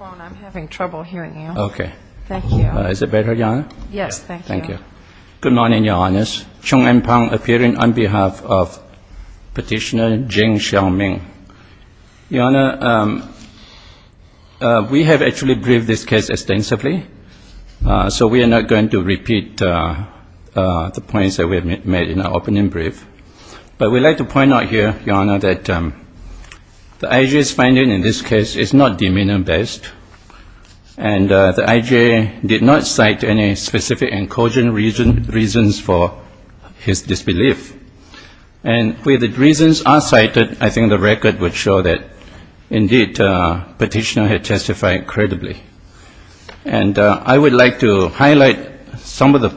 I'm having trouble hearing you. Okay. Thank you. Is it better, Your Honor? Yes, thank you. Thank you. Good morning, Your Honors. Chung N. Phang, appearing on behalf of Petitioner Jing Xiaoming. Your Honor, we have actually briefed this case extensively, so we are not going to repeat the points that we have made in our opening brief. But we'd like to And the IJA did not cite any specific and cogent reasons for his disbelief. And where the reasons are cited, I think the record would show that, indeed, Petitioner had testified credibly. And I would like to highlight some of the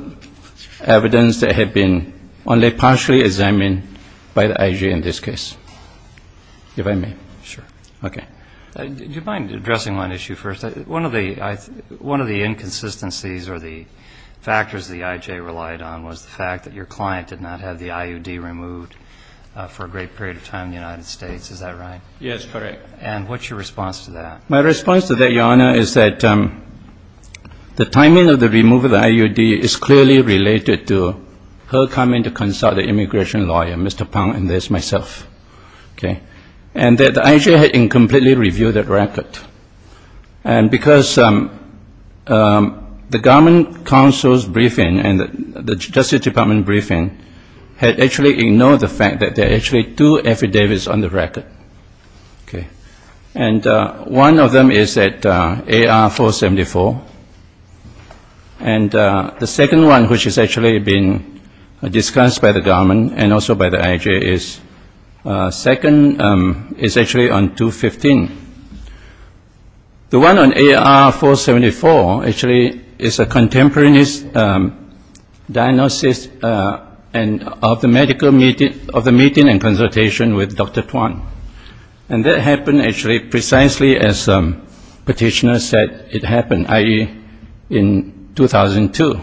evidence that had been only partially examined by the IJA in this case, if I may. Sure. Okay. Did you mind addressing one issue, Mr. Chung? Yes, of course. One of the inconsistencies or the factors the IJA relied on was the fact that your client did not have the IUD removed for a great period of time in the United States. Is that right? Yes, correct. And what's your response to that? My response to that, Your Honor, is that the timing of the removal of the IUD is clearly related to her coming to consult an immigration lawyer, Mr. Phang, and this, myself. Okay. And that the IJA had incompletely reviewed that record. And because the government counsel's briefing and the Justice Department briefing had actually ignored the fact that there are actually two affidavits on the record. Okay. And one of them is that AR-474. And the second one, which has actually been discussed by the government and also by the IJA, is the second affidavit, which is the one on AR-474, is actually on 2-15. The one on AR-474 actually is a contemporaneous diagnosis of the meeting and consultation with Dr. Tuan. And that happened actually precisely as petitioner said it happened, i.e., in 2002.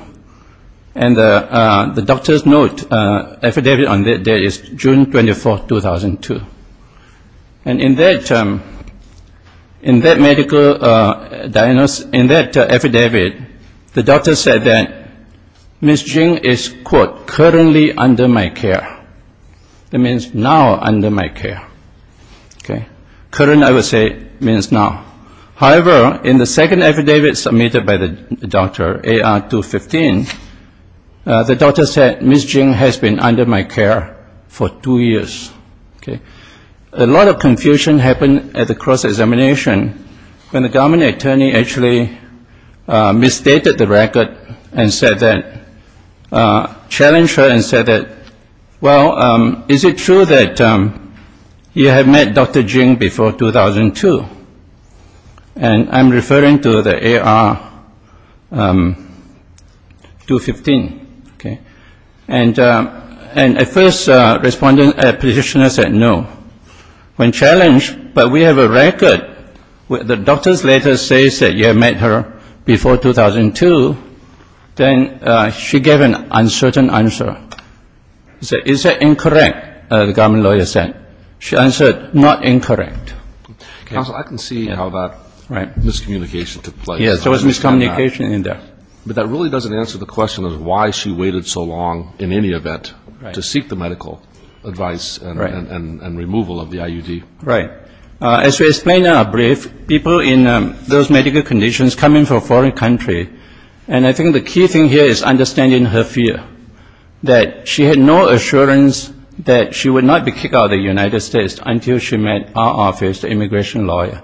And the doctor's note affidavit on that day is June 24, 2002. And in that medical diagnosis, in that affidavit, the doctor said that Ms. Jing is, quote, currently under my care. That means now under my care. Okay. Current, I would say, means now. However, in the second affidavit submitted by the doctor, AR-215, the doctor said, Ms. Jing has been under my care for two years. Okay. A lot of confusion happened at the cross-examination when the government attorney actually misstated the record and said that, challenged her and said that, well, is it true that you have met Dr. Jing before 2002? And I'm referring to the AR-215. Okay. And at first, a respondent, a petitioner said no. When challenged, but we have a record where the doctor's letter says that you have met her before 2002, then she gave an uncertain answer. He said, is that incorrect, the government lawyer said. She answered, not incorrect. Counsel, I can see how that miscommunication took place. Yes, there was miscommunication in there. But that really doesn't answer the question of why she waited so long in any event to seek the medical advice and removal of the IUD. Right. As we explained in our brief, people in those medical conditions come in from a foreign country, and I think the key thing here is understanding her fear, that she had no assurance that she would not be kicked out of the United States until she met our office, the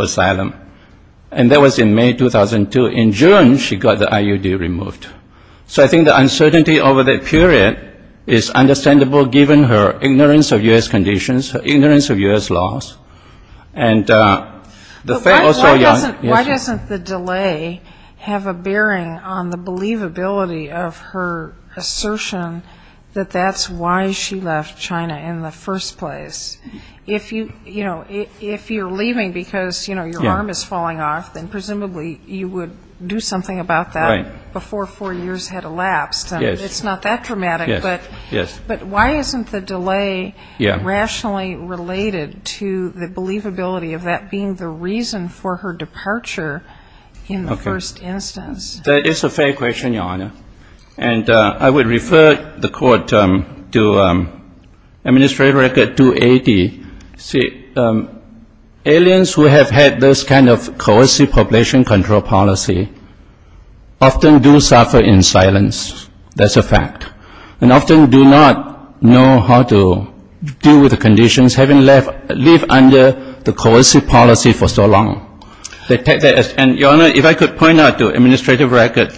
asylum. And that was in May 2002. In June, she got the IUD removed. So I think the uncertainty over that period is understandable, given her ignorance of U.S. conditions, her ignorance of U.S. laws. Why doesn't the delay have a bearing on the believability of her assertion that that's why she left China in the first place? If you, you know, if you're leaving because, you know, your arm is falling off, then presumably you would do something about that before four years had elapsed. And it's not that dramatic. But why isn't the delay rationally related to the believability of that being the reason for her departure in the first instance? That is a fair question, Your Honor. And I would refer the Court to Administrative Record 280. See, aliens who have had this kind of coercive population control policy often do suffer in silence. That's a fact. And often do not know how to deal with the conditions, having lived under the coercive policy for so long. And, Your Honor, if I could point out to Administrative Record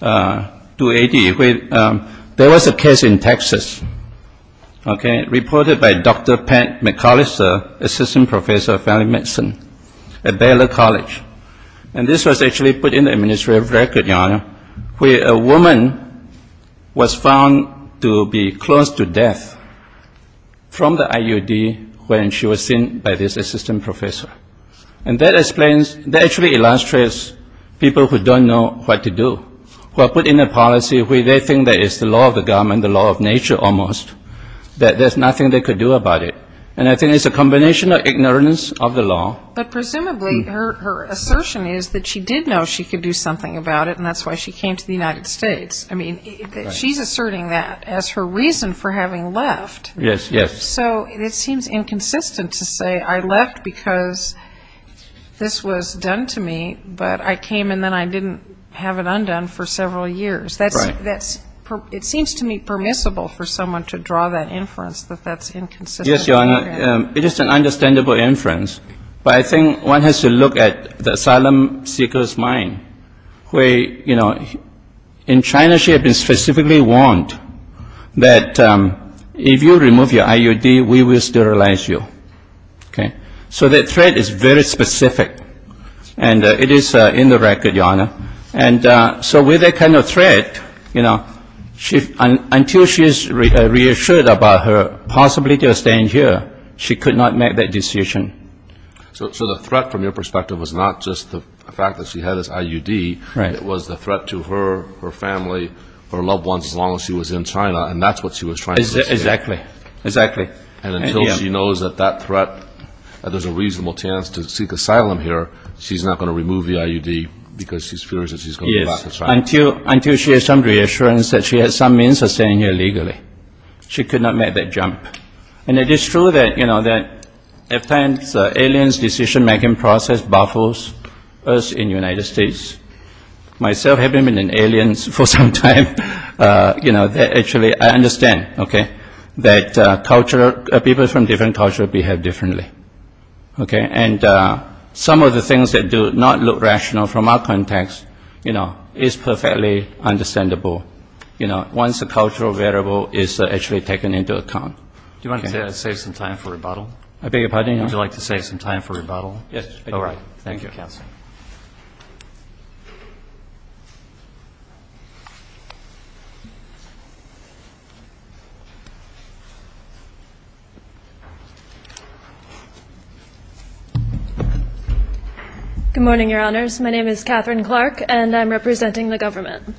280, there was a case in Texas, okay, reported by the Dr. Pat McCallister, Assistant Professor of Family Medicine at Baylor College. And this was actually put in the Administrative Record, Your Honor, where a woman was found to be close to death from the IUD when she was seen by this assistant professor. And that explains, that actually illustrates people who don't know what to do, who are put in a policy where they think that it's the law of the government, the law of nature almost, that there's nothing they could do about it. And I think it's a combination of ignorance of the law. But presumably her assertion is that she did know she could do something about it, and that's why she came to the United States. I mean, she's asserting that as her reason for having left. Yes, yes. So it seems inconsistent to say I left because this was done to me, but I came and then I didn't have it undone for several years. That's, that's, it seems to me permissible for someone to draw that inference that that's inconsistent. Yes, Your Honor. It is an understandable inference, but I think one has to look at the asylum seeker's mind, where, you know, in China she had been specifically warned that if you remove your IUD, we will sterilize you, okay. So that threat is very specific, and it is in the record, Your Honor. And so with that kind of threat, you know, until she is reassured about her possibility of staying here, she could not make that decision. So the threat from your perspective was not just the fact that she had this IUD. It was the threat to her, her family, her loved ones, as long as she was in China, and that's what she was trying to do. Exactly, exactly. And until she knows that that threat, that there's a reasonable chance to seek asylum here, she's not going to remove the IUD because she's furious that she's going to be back in China. Yes, until she has some reassurance that she has some means of staying here legally. She could not make that jump. And it is true that, you know, that at times aliens' decision-making process baffles us in the United States. Myself, having been an alien for some time, you know, that actually I understand, okay, that people from different cultures behave differently. And some of the things that do not look rational from our context, you know, is perfectly understandable, you know, once the cultural variable is actually taken into account. Katherine Clark Good morning, Your Honors. My name is Katherine Clark, and I'm representing the government.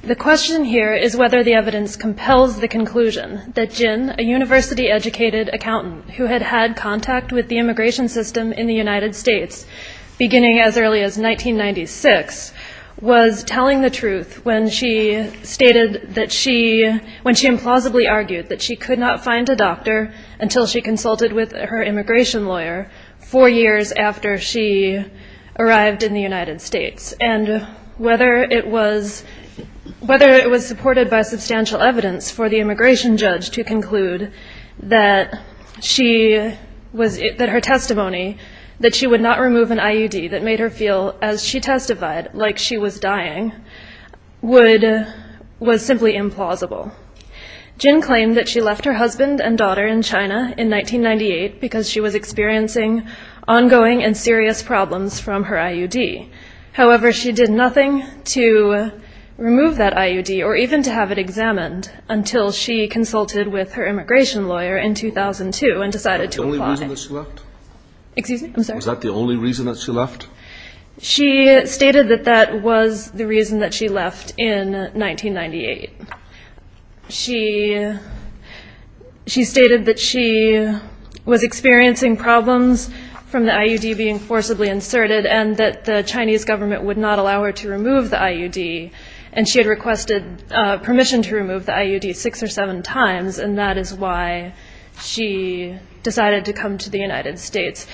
The question here is whether the evidence compels the conclusion that Jin, a university-educated accountant who had had contact with the U.S. in 2006, was telling the truth when she stated that she, when she implausibly argued that she could not find a doctor until she consulted with her immigration lawyer four years after she arrived in the United States. And whether it was supported by substantial evidence for the immigration judge to conclude that she was, that her testimony, that she would not remove an IUD that made her feel, as she testified, like she was dying, would, was simply implausible. Jin claimed that she left her husband and daughter in China in 1998 because she was experiencing ongoing and serious problems from her IUD. However, she did nothing to remove that IUD or even to have it examined until she consulted with her immigration lawyer in 2002 and decided to apply. Was that the only reason that she left? She stated that that was the reason that she left in 1998. She stated that she was experiencing problems from the IUD being forcibly inserted and that the Chinese government would not allow her to remove the IUD. And she had requested permission to remove the IUD six or seven times, and that is why she decided to apply. And that is why she decided to come to the United States.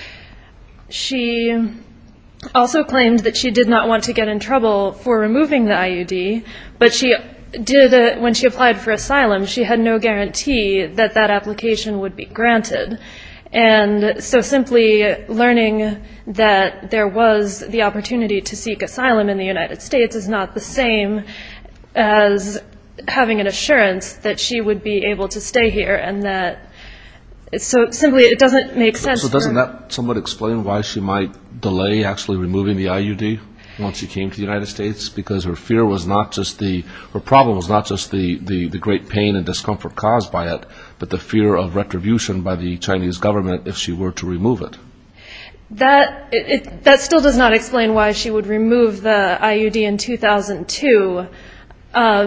She also claimed that she did not want to get in trouble for removing the IUD, but she did, when she applied for asylum, she had no guarantee that that application would be granted. And so simply learning that there was the opportunity to seek asylum in the United States is not the same as having an assurance that she would be able to stay here. And so simply it doesn't make sense. So doesn't that somewhat explain why she might delay actually removing the IUD once she came to the United States? Because her fear was not just the, her problem was not just the great pain and discomfort caused by it, but the fear of retribution by the Chinese government if she were to remove it. That still does not explain why she would remove the IUD in 2002,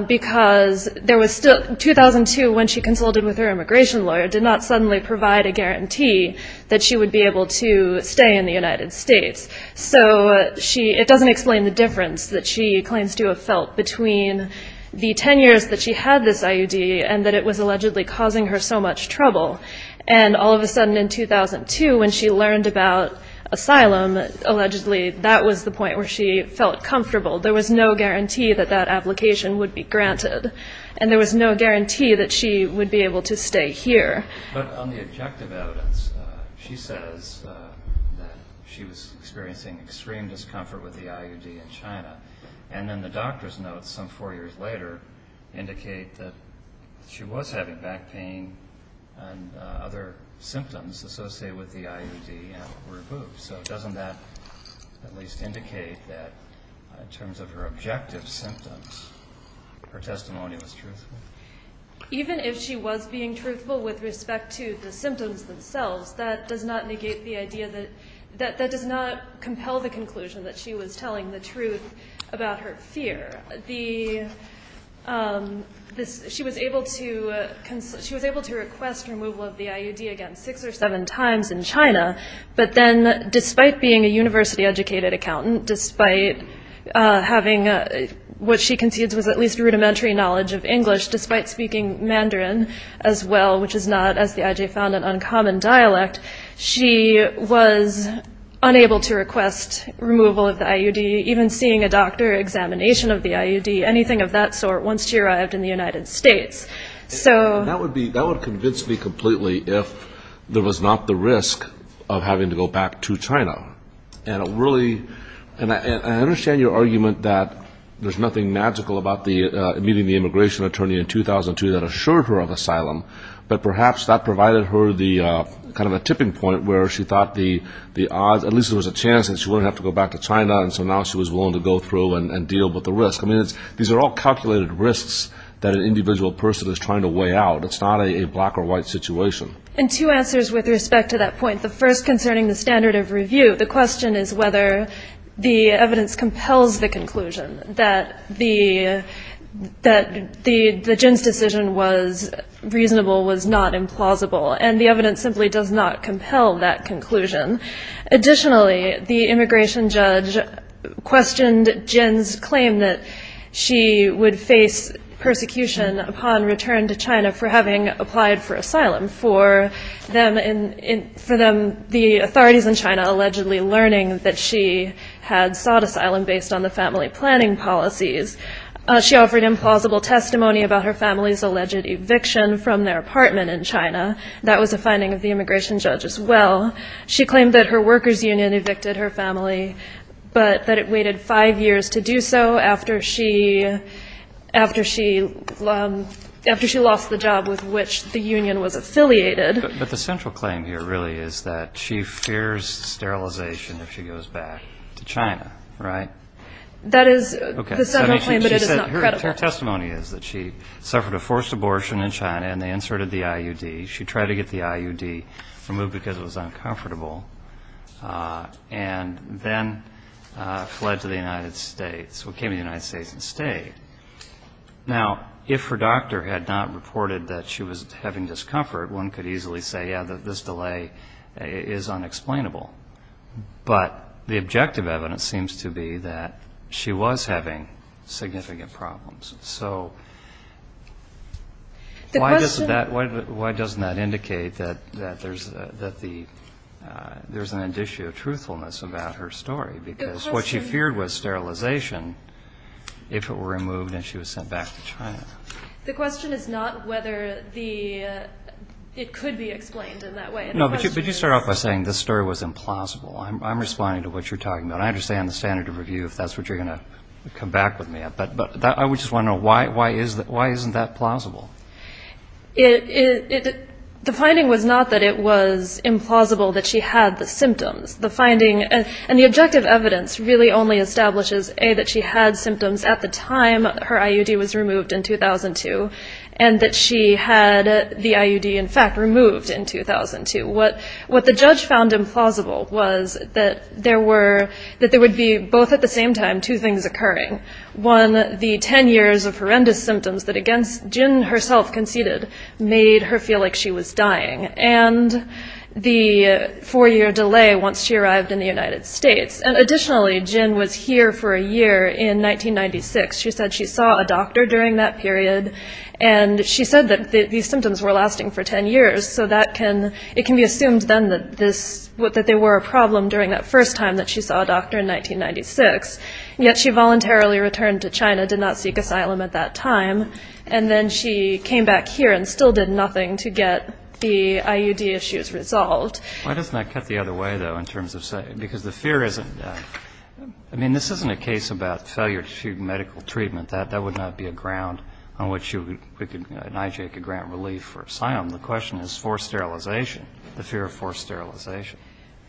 because there was still, 2002 when she consulted with her immigration lawyer. The immigration lawyer did not suddenly provide a guarantee that she would be able to stay in the United States. So she, it doesn't explain the difference that she claims to have felt between the 10 years that she had this IUD and that it was allegedly causing her so much trouble. And all of a sudden in 2002 when she learned about asylum, allegedly that was the point where she felt comfortable. There was no guarantee that that application would be granted. But on the objective evidence, she says that she was experiencing extreme discomfort with the IUD in China. And then the doctor's notes some four years later indicate that she was having back pain and other symptoms associated with the IUD were removed. So doesn't that at least indicate that in terms of her objective symptoms, her testimony was truthful? Even if she was being truthful with respect to the symptoms themselves, that does not negate the idea that, that does not compel the conclusion that she was telling the truth about her fear. She was able to request removal of the IUD again six or seven times in China, but then despite being a university-educated accountant, despite having what she concedes was at least rudimentary knowledge of English, despite speaking Mandarin as well, which is not, as the IJ found, an uncommon dialect, she was unable to request removal of the IUD, even seeing a doctor, examination of the IUD, anything of that sort once she arrived in the United States. So... That would convince me completely if there was not the risk of having to go back to China. And it really, and I understand your argument that there's nothing magical about meeting the immigration attorney in 2002 that assured her of asylum, but perhaps that provided her the kind of a tipping point where she thought the odds, at least there was a chance that she wouldn't have to go back to China, and so now she was willing to go through and deal with the risk. I mean, these are all calculated risks that an individual person is trying to weigh out. It's not a black-or-white situation. I mean, it's not a black-or-white situation. It's not a black-or-white situation. But the central claim here really is that she fears sterilization if she goes back to China, right? That is, the settlement claim that it is not credible. Her testimony is that she suffered a forced abortion in China and they inserted the IUD. She tried to get the IUD removed because it was uncomfortable, and then fled to the United States, or came to the United States and stayed. Now, if her doctor had not reported that she was having discomfort, one could easily say, yeah, this delay is unexplainable. But the objective evidence seems to be that she was having significant problems. So why doesn't that indicate that there's an issue of truthfulness about her story? Because what she feared was sterilization if it were removed and she was sent back to China. The question is not whether it could be explained in that way. No, but you start off by saying this story was implausible. I'm responding to what you're talking about. I understand the standard of review, if that's what you're going to come back with me. But I just want to know, why isn't that plausible? The finding was not that it was implausible that she had the symptoms. And the objective evidence really only establishes, A, that she had symptoms at the time her IUD was removed in 2002, and that she had the IUD, in fact, removed in 2002. What the judge found implausible was that there would be, both at the same time, two things occurring. One, the 10 years of horrendous symptoms that Jin herself conceded made her feel like she was dying. And the four-year delay once she arrived in the United States. And additionally, Jin was here for a year in 1996. She said she saw a doctor during that period, and she said that these symptoms were lasting for 10 years. So it can be assumed then that there were a problem during that first time that she saw a doctor in 1996. Yet she voluntarily returned to China, did not seek asylum at that time. And then she came back here and still did nothing to get the IUD issues resolved. Why doesn't that cut the other way, though, in terms of saying, because the fear isn't that. I mean, this isn't a case about failure to seek medical treatment. That would not be a ground on which an IJ could grant relief for asylum. The question is forced sterilization, the fear of forced sterilization,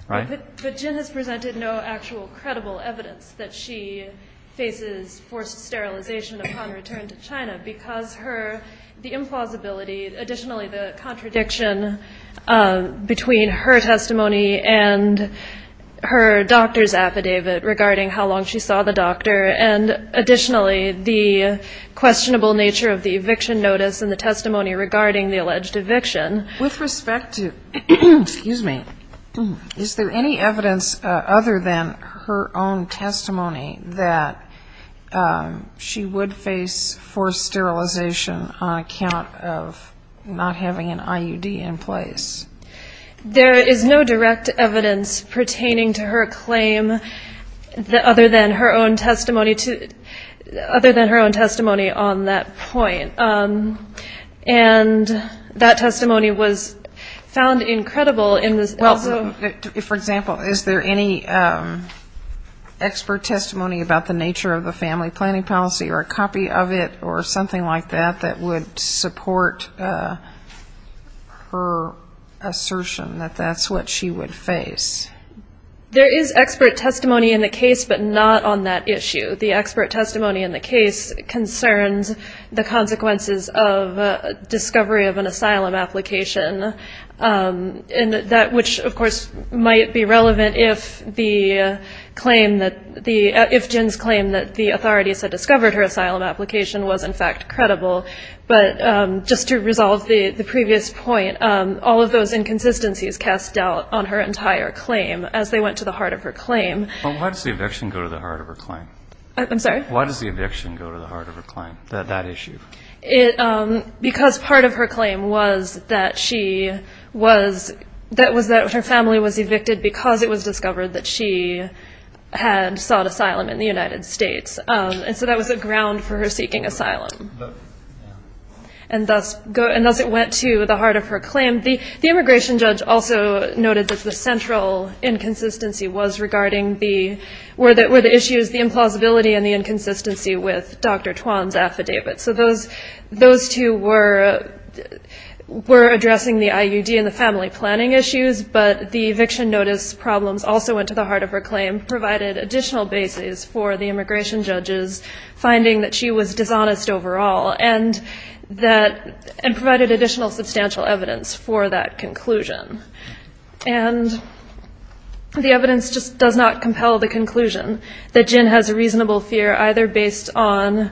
right? But Jin has presented no actual credible evidence that she faces forced sterilization upon return to China, because the implausibility, additionally the contradiction between her testimony and her doctor's affidavit regarding how long she saw the doctor, and additionally the questionable nature of the eviction notice and the testimony regarding the alleged eviction. With respect to, excuse me, is there any evidence other than her own testimony that she would face forced sterilization on account of not having an IUD in place? There is no direct evidence pertaining to her claim other than her own testimony on that point. And that testimony was found incredible in this. For example, is there any expert testimony about the nature of the family planning policy or a copy of it or something like that that would support her assertion that that's what she would face? There is expert testimony in the case, but not on that issue. The expert testimony in the case concerns the consequences of discovery of an asylum application, and that which, of course, might be relevant if the claim that the, if Jin's claim that the authorities had discovered her asylum application was, in fact, credible. But just to resolve the previous point, all of those inconsistencies cast doubt on her entire claim as they went to the heart of her claim. But why does the eviction go to the heart of her claim? I'm sorry? Why does the eviction go to the heart of her claim, that issue? Because part of her claim was that she was, that was that her family was evicted because it was discovered that she had sought asylum in the United States. And so that was a ground for her seeking asylum. And thus it went to the heart of her claim. The immigration judge also noted that the central inconsistency was regarding the, were the issues, the implausibility and the inconsistency with Dr. Tuan's affidavit. So those two were addressing the IUD and the family planning issues, but the eviction notice problems also went to the heart of her claim, provided additional basis for the immigration judge's finding that she was dishonest overall, and that, and provided additional substantial evidence for that conclusion. And the evidence just does not compel the conclusion that Jin has a reasonable fear, either based on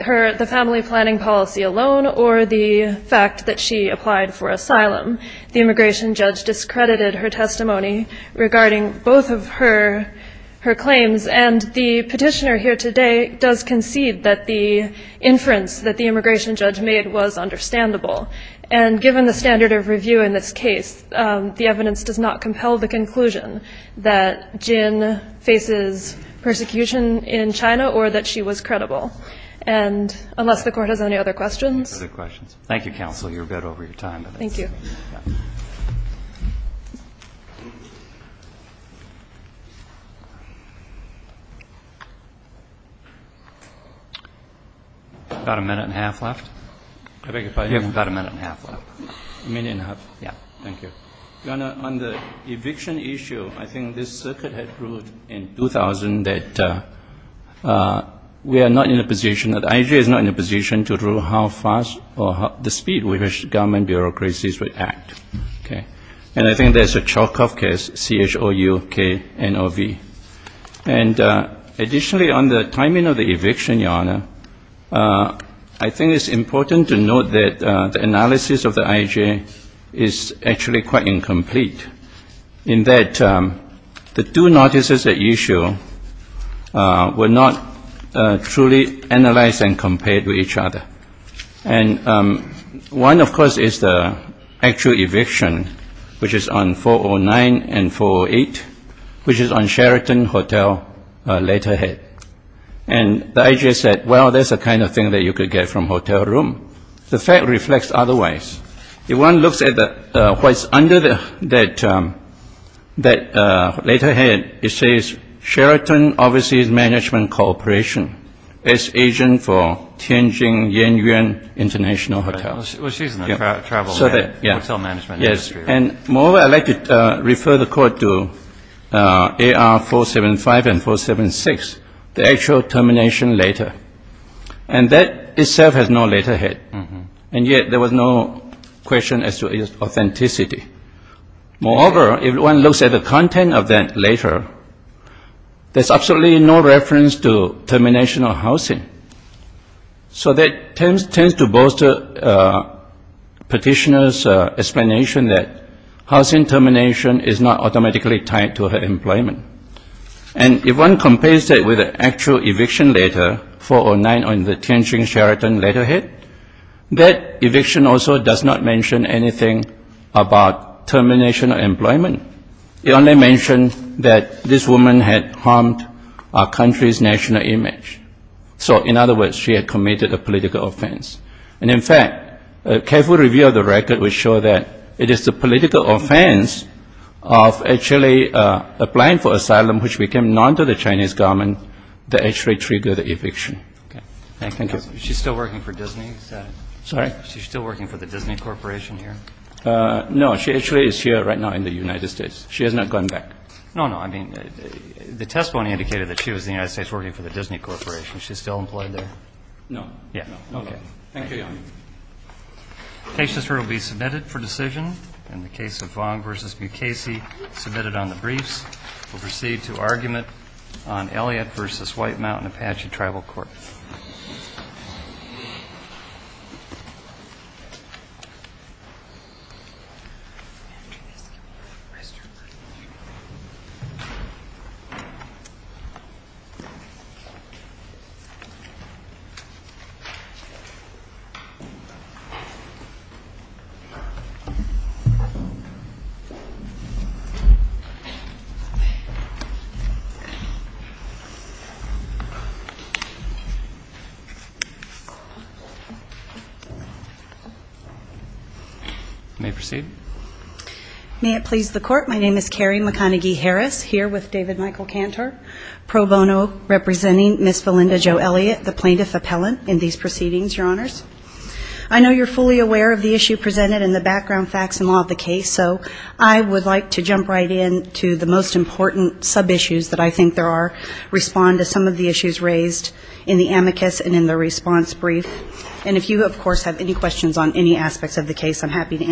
her, the family planning policy alone, or the fact that she applied for asylum. The immigration judge discredited her testimony regarding both of her claims, and the petitioner here today does concede that the inference that the immigration judge made was understandable. And given the standard of review in this case, the evidence does not compel the conclusion that Jin faces persecution in China or that she was credible. And unless the Court has any other questions. Thank you, Counsel. You're good over your time. Thank you. Got a minute and a half left. On the eviction issue, I think this circuit had proved in 2000 that we are not in a position, that the IJA is not in a position to rule how fast or the speed with which government bureaucracies would act. And I think there's a Chalkoff case, C-H-O-U-K-N-O-V. And additionally, on the timing of the eviction, Your Honor, I think it's important to note that the analysis of the IJA is actually quite incomplete in that the two notices at issue were not truly analyzed and compared with each other. And one, of course, is the actual eviction, which is on 409 and 408, which is on Sheraton Hotel later head. And the IJA said, well, there's a kind of thing that you could get from hotel room. The fact reflects otherwise. If one looks at what's under that later head, it says Sheraton Overseas Management Corporation as agent for Tianjin Yanyuan International Hotel. And moreover, I'd like to refer the Court to AR 475 and 476, the actual termination later. And that itself has no later head, and yet there was no question as to its authenticity. Moreover, if one looks at the content of that later, there's absolutely no reference to termination of housing. So that tends to bolster Petitioner's explanation that housing termination is not automatically tied to her employment. And if one compares that with the actual eviction later, 409 on the Tianjin Sheraton later head, that eviction also does not mention anything about termination of employment. It only mentioned that this woman had harmed our country's national image. So in other words, she had committed a political offense. And in fact, a careful review of the record would show that it is the political offense of asylum which became known to the Chinese government that actually triggered the eviction. Thank you. No, she actually is here right now in the United States. She has not gone back. No, no, I mean, the testimony indicated that she was in the United States working for the Disney Corporation. She's still employed there? No. Okay. Thank you. May I proceed? May it please the Court. My name is Carrie McConaghy-Harris, here with David Michael Cantor. Pro bono representing Ms. Valinda Jo Elliott, the plaintiff appellant in these proceedings, Your Honors. I know you're fully aware of the issue presented and the background facts and law of the case, so I would like to jump right in to the most important sub-issues that I think there are, respond to some of the issues raised in the amicus and in the response brief. And if you, of course, have any questions on any aspects of the case, I'm happy to answer them.